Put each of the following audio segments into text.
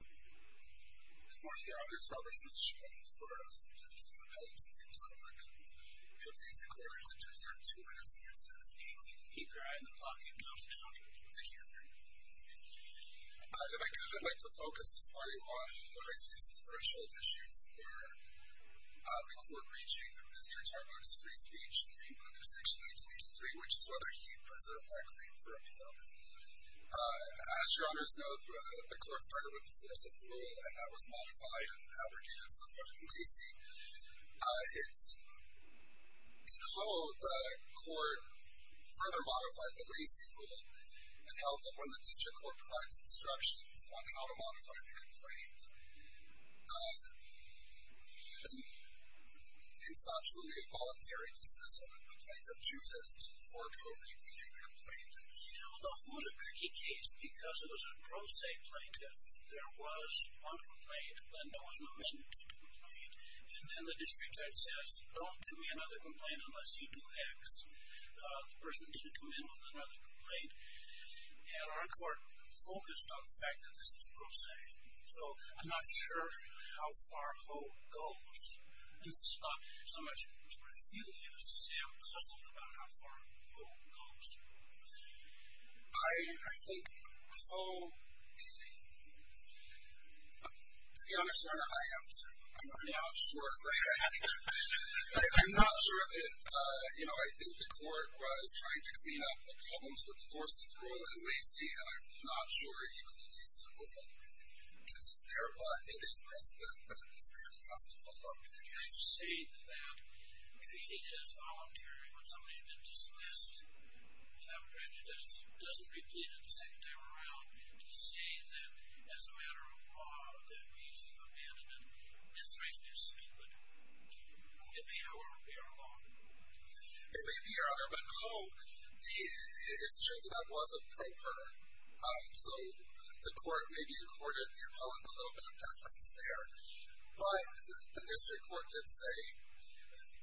Good morning Your Honors, Robert Smith Schoen for the Appeal of Appellate Steve Tarbuck. We have these inquiries that deserve two minutes of your time. Neither I, nor Bob do we have enough time. Thank you Your Honor. If I could, I'd like to focus this morning on what I see as the threshold issue for the court reaching Mr. Tarbuck's free speech claim under Section 1883, which is whether he preserved that claim for appeal. As Your Honors know, the court started with the forciful rule and that was modified and abrogated somewhat in Lacey. In Hull, the court further modified the Lacey rule and held that when the district court provides instructions on how to modify the complaint, it's absolutely a voluntary dismissal if the plaintiff chooses to forego completing the complaint. You know, the Hull is a tricky case because it was a pro se plaintiff. There was one complaint when there was an amendment to the complaint and then the district court says, don't give me another complaint unless you do X. The person didn't come in with another complaint and our court focused on the fact that this is pro se. So, I'm not sure how far Hull goes. It's not so much what I'm feeling as to say I'm puzzled about how far Hull goes. I think Hull, to be honest Your Honor, I am too. I'm not sure. I'm not sure if it, you know, I think the court was trying to clean up the problems with the forciful rule in Lacey and I'm not sure even the Lacey rule gets us there, but it is possible. It's very possible. You're trying to say that treating it as voluntary when somebody's been dismissed without prejudice doesn't repeat it the second time around to say that as a matter of law, that we're using an amendment that strikes me as stupid. It may, however, be our law. It may be, Your Honor. It's true that that was a pro per. So, the court maybe accorded the appellant a little bit of deference there, but the district court did say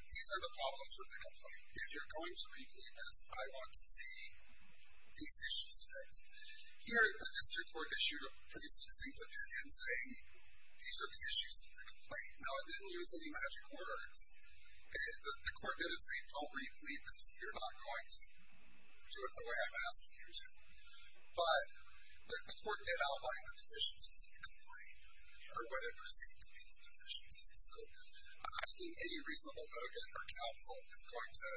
these are the problems with the complaint. If you're going to repeat this, I want to see these issues fixed. Here, the district court issued a pretty succinct opinion saying these are the issues with the complaint. Now, it didn't use any magic words. The court didn't say don't repeat this. You're not going to do it the way I'm asking you to, but the court did outline the deficiencies of the complaint or what it perceived to be the deficiencies. I think any reasonable litigant or counsel is going to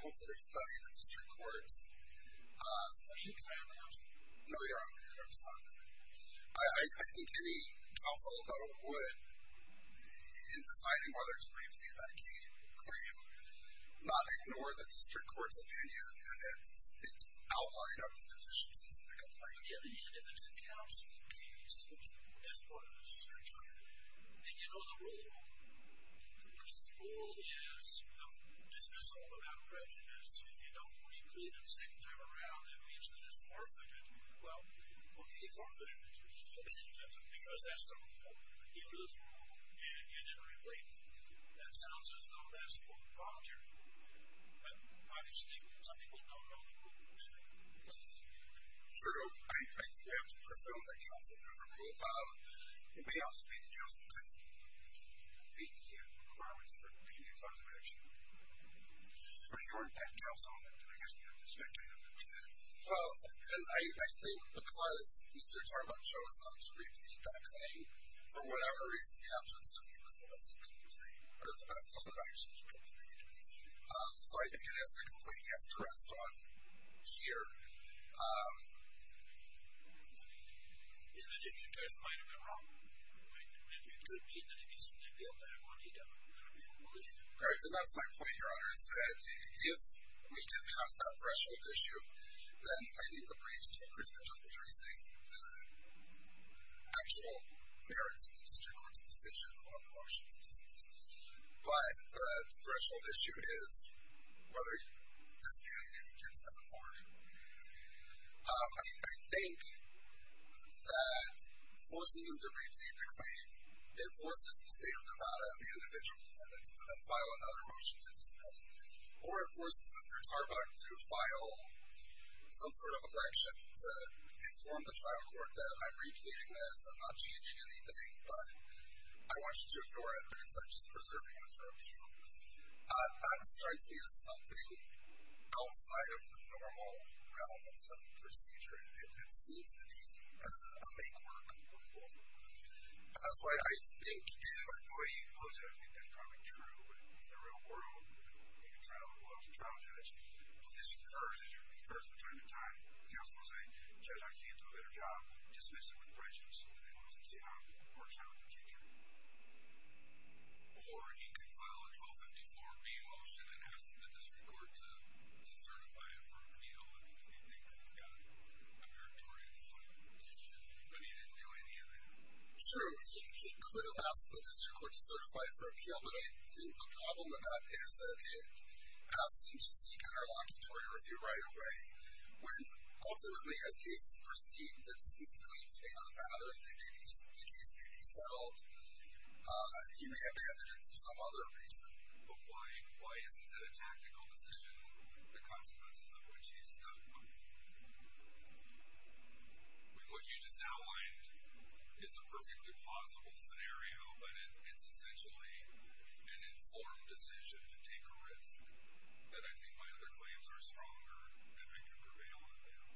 hopefully study the district court's Are you trying to argue? No, Your Honor. I was not. I think any counsel, though, would, in deciding whether to repeat that claim, not ignore the district court's opinion and its outline of the deficiencies of the complaint. Yeah, and if it's a counsel case, that's part of the district court. And you know the rule. The rule is dismiss all without prejudice. If you don't repeat it a second time around, that means that it's forfeited. Well, okay, it's forfeited because that's the rule. The rule is the rule, and you didn't repeat it. That sounds as though that's for voluntary approval, but I just think some people don't know the rules. Sir, I think we have to presume that counsel never will. It may also be that you have some kind of APM requirements for repeating it as part of the action. But you aren't that counsel, and I guess you have to expect me to agree with that. Well, and I think because Mr. Tarbon chose not to repeat that claim, for whatever reason, we have to assume he was the best in the complaint, or the best counsel that actually completed it. So I think it is the complaint he has to rest on here. Yeah, the district court's point of view is wrong. It could be that if he's going to be able to have money, that would not be a whole issue. Correct, and that's my point, Your Honors, is that if we get past that threshold issue, then I think the brief's still pretty much underdressing the actual merits of the district court's decision on the motion to dismiss. But the threshold issue is whether this new amendment gets them authority. I think that forcing them to repeat the claim, it forces the State of Nevada and the individual defendants to then file another motion to dismiss. Or it forces Mr. Tarbon to file some sort of election to inform the trial court that I'm repeating this, I'm not changing anything, but I want you to ignore it because I'm just preserving it for a few. That strikes me as something outside of the normal realm of some procedure. It seems to be a make-or-break rule. That's why I think if the way you pose it, I think that's probably true in the real world, in the trial world, the trial judge. This occurs, it occurs from time to time. The counsel will say, Judge, I can't do a better job. Dismiss it with prejudice. Let's see how it works out in the future. Or he could file a 1254B motion and ask the district court to certify it for appeal if he thinks it's got a meritorious value. But he didn't do any of that. True. He could have asked the district court to certify it for appeal, but I think the problem with that is that it asks him to seek an interlocutory review right away when ultimately, as cases proceed, the dismissal claims may not matter, the case may be settled, he may have banded it for some other reason. But why isn't it a tactical decision, the consequences of which he's stuck with? What you just outlined is a perfectly plausible scenario, but it's essentially an informed decision to take a risk that I think my other claims are stronger and I can prevail on them.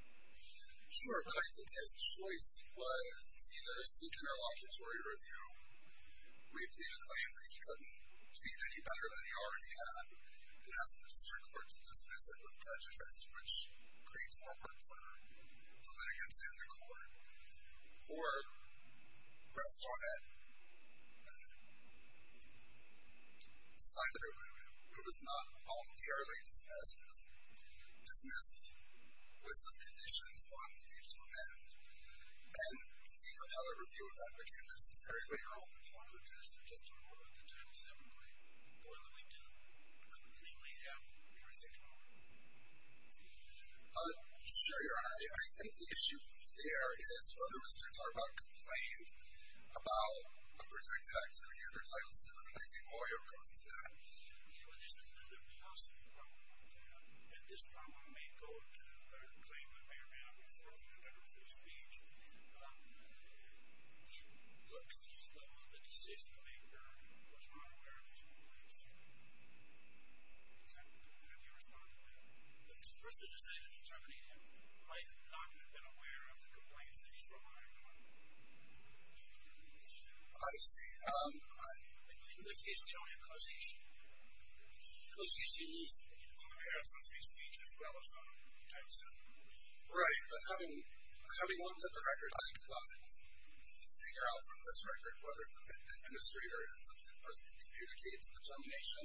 Sure, but I think his choice was to either seek an interlocutory review, reap the acclaim that he couldn't plead any better than he already had, and ask the district court to dismiss it with prejudice, which creates more work for the litigants and the court, or rest on it and decide that it was not voluntarily dismissed, it was dismissed with some conditions one needs to amend, and seek an appellate review if that became necessary later on. I'm not a jurist. I'm just a lawyer. I can judge this differently. The way that we do, I completely have jurisdiction over it. Sure, Your Honor. I think the issue there is whether Mr. Tarbach complained about a protected activity under Title VII, and I think lawyer goes to that. Yeah, well, there's another possible problem, and this problem may go to a claim that may or may not be forfeited under free speech. Your Honor, he looks as though the decision-maker was not aware of his complaints. Have you responded to that? If the person who decided to terminate him might not have been aware of the complaints that he's provided, Your Honor. I believe in this case we don't have causation. Causation is in comparison to his speech as well as under Title VII. Right. But having looked at the record, I could not figure out from this record whether the administrator is the person who communicates the termination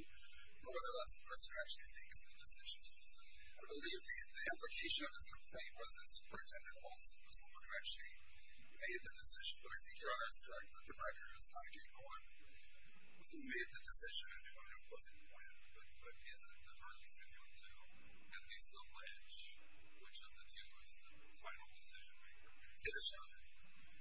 or whether that's the person who actually makes the decision. I believe the implication of his complaint was that Superintendent Olson was the one who actually made the decision. But I think Your Honor is correct that the record is not a gate-going. Who made the decision and who and what and when. But is it the earliest of your two? At least the ledge. Which of the two is the final decision-maker? Yes, Your Honor.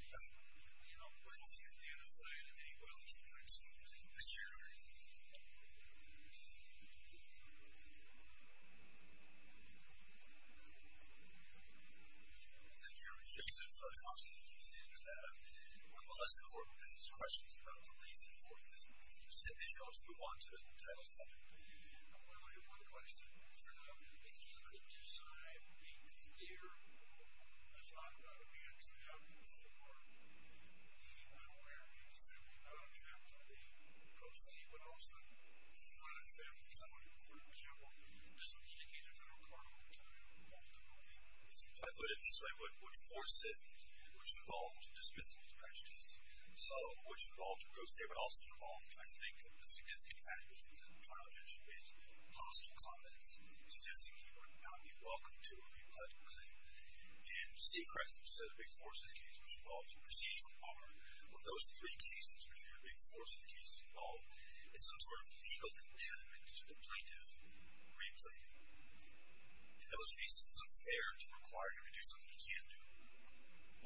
You know, we'll see at the end of the day if anybody else wants to comment. Thank you, Your Honor. Thank you, Your Honor. Just a follow-up question if you can say anything to that. One of the less important questions about the reason for his refusal to move on to Title VII. I'm going to look at one question. So if he could decide a year or a time that would be a good time for him to move on to Title VII, would that be pro se, but also would that be for someone who, for example, doesn't communicate their federal card all the time? I put it this way, would force it, which involved dismissing his questions. So which involved pro se, but also involved, I think, the significant fact is that the trial judge made hostile comments suggesting he would not be welcome to a re-pledged claim. And C. Crest, which says a Big Forces case was involved, the procedural part of those three cases, which were Big Forces cases involved, is some sort of legal impediment to the plaintiff re-claiming. In those cases, it's unfair to require him to do something he can't do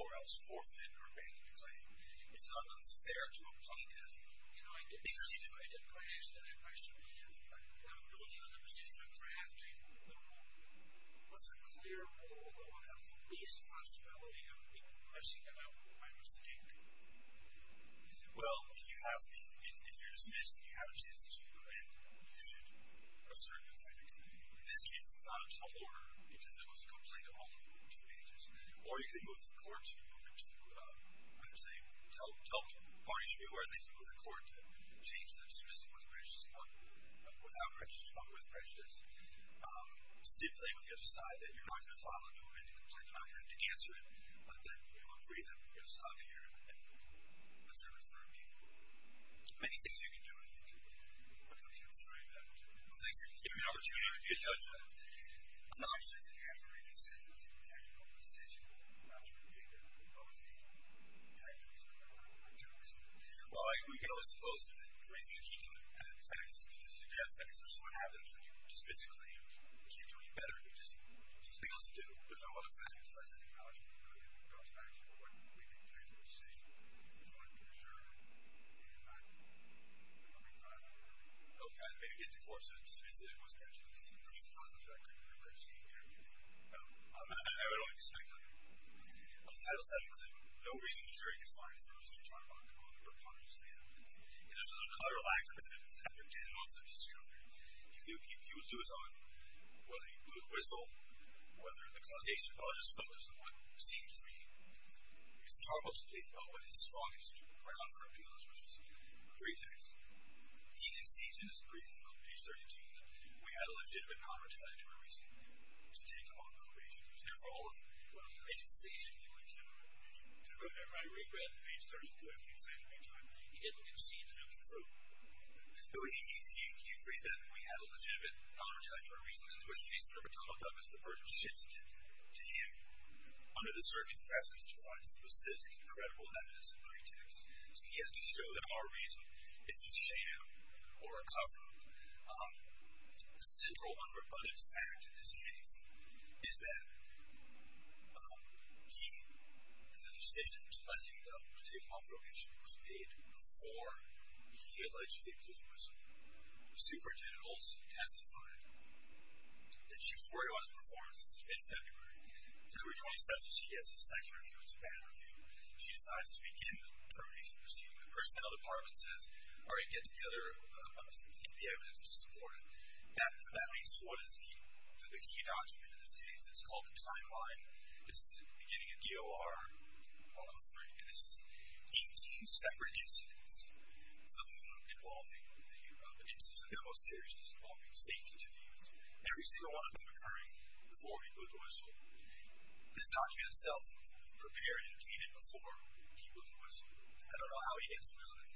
or else forfeit or ban the claim. It's not unfair to a plaintiff. You know, I didn't quite answer that question, but if I'm building on the position of drafting the rule, what's a clear rule that would have the least possibility of people pressing him about what I would say? Well, if you're dismissed and you have a chance to go ahead, you should assert your claim. In this case, it's not a total order because it was a complaint of all of the two pages. Or you could move the court to move him to, I'm sorry, tell parties to be aware they can move the court to change the dismissal without prejudice, but with prejudice. Stipulate with the other side that you're not going to file a new complaint, you're not going to have to answer it, but then you'll agree that we're going to stop here and observe it for a few more weeks. There's many things you can do, I think, to come to your conclusion on that. Well, thank you. Give me an opportunity to judge that. I'm not sure if the answer you just said was a tactical decision, but what was the tactical decision that you were going to make? Well, we can always suppose that the reason he didn't have sex is because he didn't have sex, which is what happens when you dismiss a claim. You can't do any better. You just do what you're supposed to do. Which I'm not excited about, because I think the logical conclusion comes back to what we did today to make a decision. I just want to make sure. And I'll be fine with that. Okay. And maybe get the court to dismiss it. It was prejudiced. It was just prejudiced. I couldn't have prejudiced the interview. I would only be speculating. Title VII says, No reason to jury confines Mr. Tarbox on the preponderance of the evidence. And there's a clear lack of evidence. After 10 months of discovery, he was to his own, whether he blew a whistle, whether or not the case pathologist focused on what seemed to be Mr. Tarbox's case, but what his strongest ground for appeal is, which was pretext. He concedes in his brief on page 13 that we had a legitimate non-retaliatory reason to take off probation. He was there for all of it. Well, I didn't think it was a legitimate reason. Remember, I read that on page 13, but I was too excited to read it on time. He didn't concede. It was a joke. No, he agreed that we had a legitimate non-retaliatory reason, in which case, the court called on Mr. Burton-Shitzkin to him, under the circuit's presence, to provide specific, credible evidence of pretext. So he has to show that our reason is a sham or a cover-up. The central unrebutted fact in this case is that he, and the decision to let him go, to take off probation, was made before he allegedly blew the whistle. Superintendent Olson testified that she was worried about his performance. It's February 27th. She gets a second review. It's a bad review. She decides to begin the termination proceeding. The personnel department says, All right, get together some key evidence to support it. That leads to what is the key document in this case. It's called the timeline. It's beginning in EOR 103, and it's 18 separate incidents, some of them involving the most serious, some of them involving safety to the youth, every single one of them occurring before he blew the whistle. This document itself prepared and dated before he blew the whistle. I don't know how he gets around it.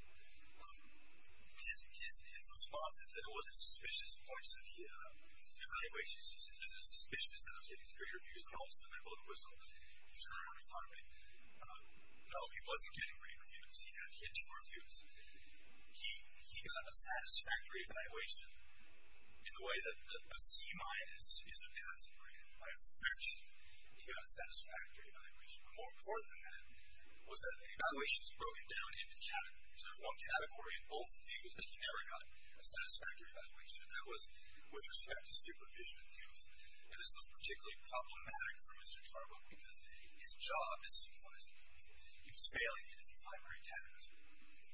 His response is that it wasn't suspicious points to the evaluations. He says it was suspicious that I was getting three reviews, and all of a sudden I blew the whistle. He turned around and he thought of me. No, he wasn't getting three reviews. He had two reviews. He got a satisfactory evaluation in the way that a C-minus is a passing grade. By a subtraction, he got a satisfactory evaluation. But more important than that was that the evaluation is broken down into categories. There's one category in both reviews that he never got a satisfactory evaluation, and that was with respect to supervision of youth. And this was particularly problematic for Mr. Tarbo because his job is supervised youth. He was failing in his primary task.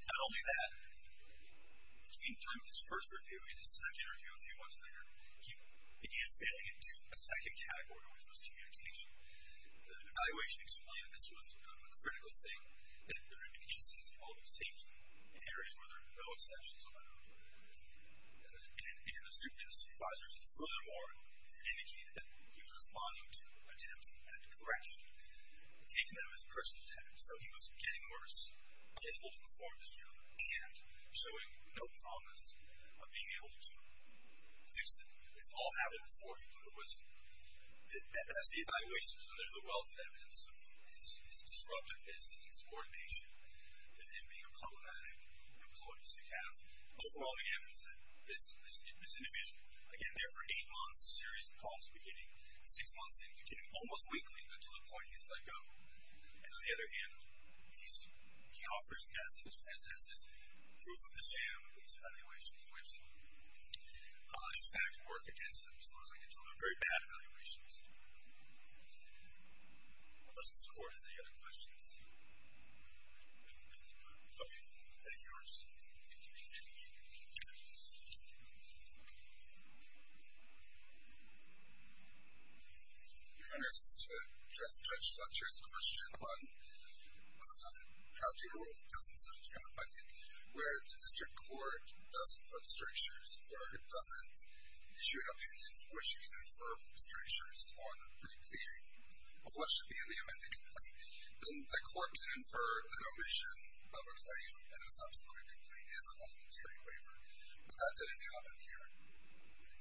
Not only that, in his first review, in his second review a few months later, he began failing in a second category, which was communication. The evaluation explained this was a critical thing that there had been incidents involving safety in areas where there are no exceptions allowed. And it didn't suit his supervisors. Furthermore, it indicated that he was responding to attempts at correction, taking them as personal attempts. So he was getting worse, unable to perform his job, and showing no promise of being able to fix it. It's all happened before he blew the whistle. That's the evaluations, and there's a wealth of evidence of his disruptiveness, his insubordination, and him being a problematic employee. So you have overwhelming evidence that this individual, again, there for 8 months, serious problems beginning, 6 months in, continuing almost weekly until the point he's let go. And on the other hand, he offers, yes, he presents as his proof of the sham of these evaluations, which, in fact, work against him. So as I can tell, they're very bad evaluations. Unless this court has any other questions. Okay. Any yours? Just to address Judge Fletcher's question on crafting a rule that doesn't set a trap, I think, where the district court doesn't put strictures or doesn't issue an opinion for which you can infer from strictures on what should be in the amended complaint, then the court can infer that omission of a claim in a subsequent complaint is a voluntary waiver. But that didn't happen here.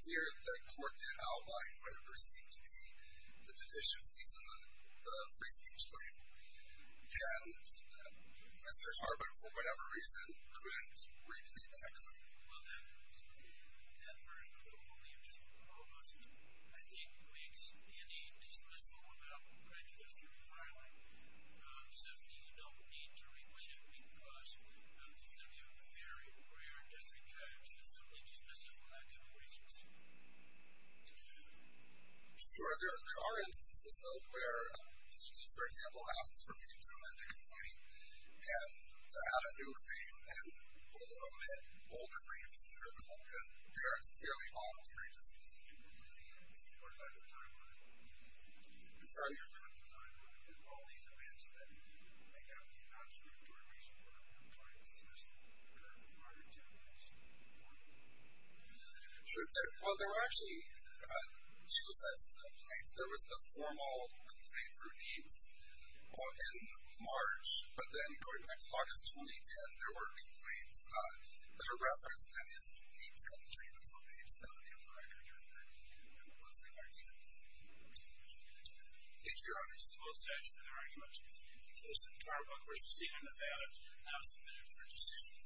Here, the court did outline what it perceived to be the deficiencies in the free speech claim, and Mr. Tarbin, for whatever reason, couldn't repeat that claim. Well, that version of the rule that you just proposed, I think, makes any dismissal of that prejudice to be viable. So you don't need to repeat it because it's going to be a very rare district judge to simply dismiss it from that kind of way so soon. Sure, there are instances, though, where a plaintiff, for example, asks for me to amend a complaint and to add a new claim and will omit all claims through the law. And there are clearly voluntary dismissals. Well, there were actually two sets of complaints. There was the formal complaint through NIEMS in March, but then, going back to August 2010, there were complaints that are referenced in NIEMS' commentary that's on page 70 of the record. Thank you, Your Honor. This is a motion to adjourn the argument. The case of the Tarbon v. Stephen Nevada is now submitted for decision.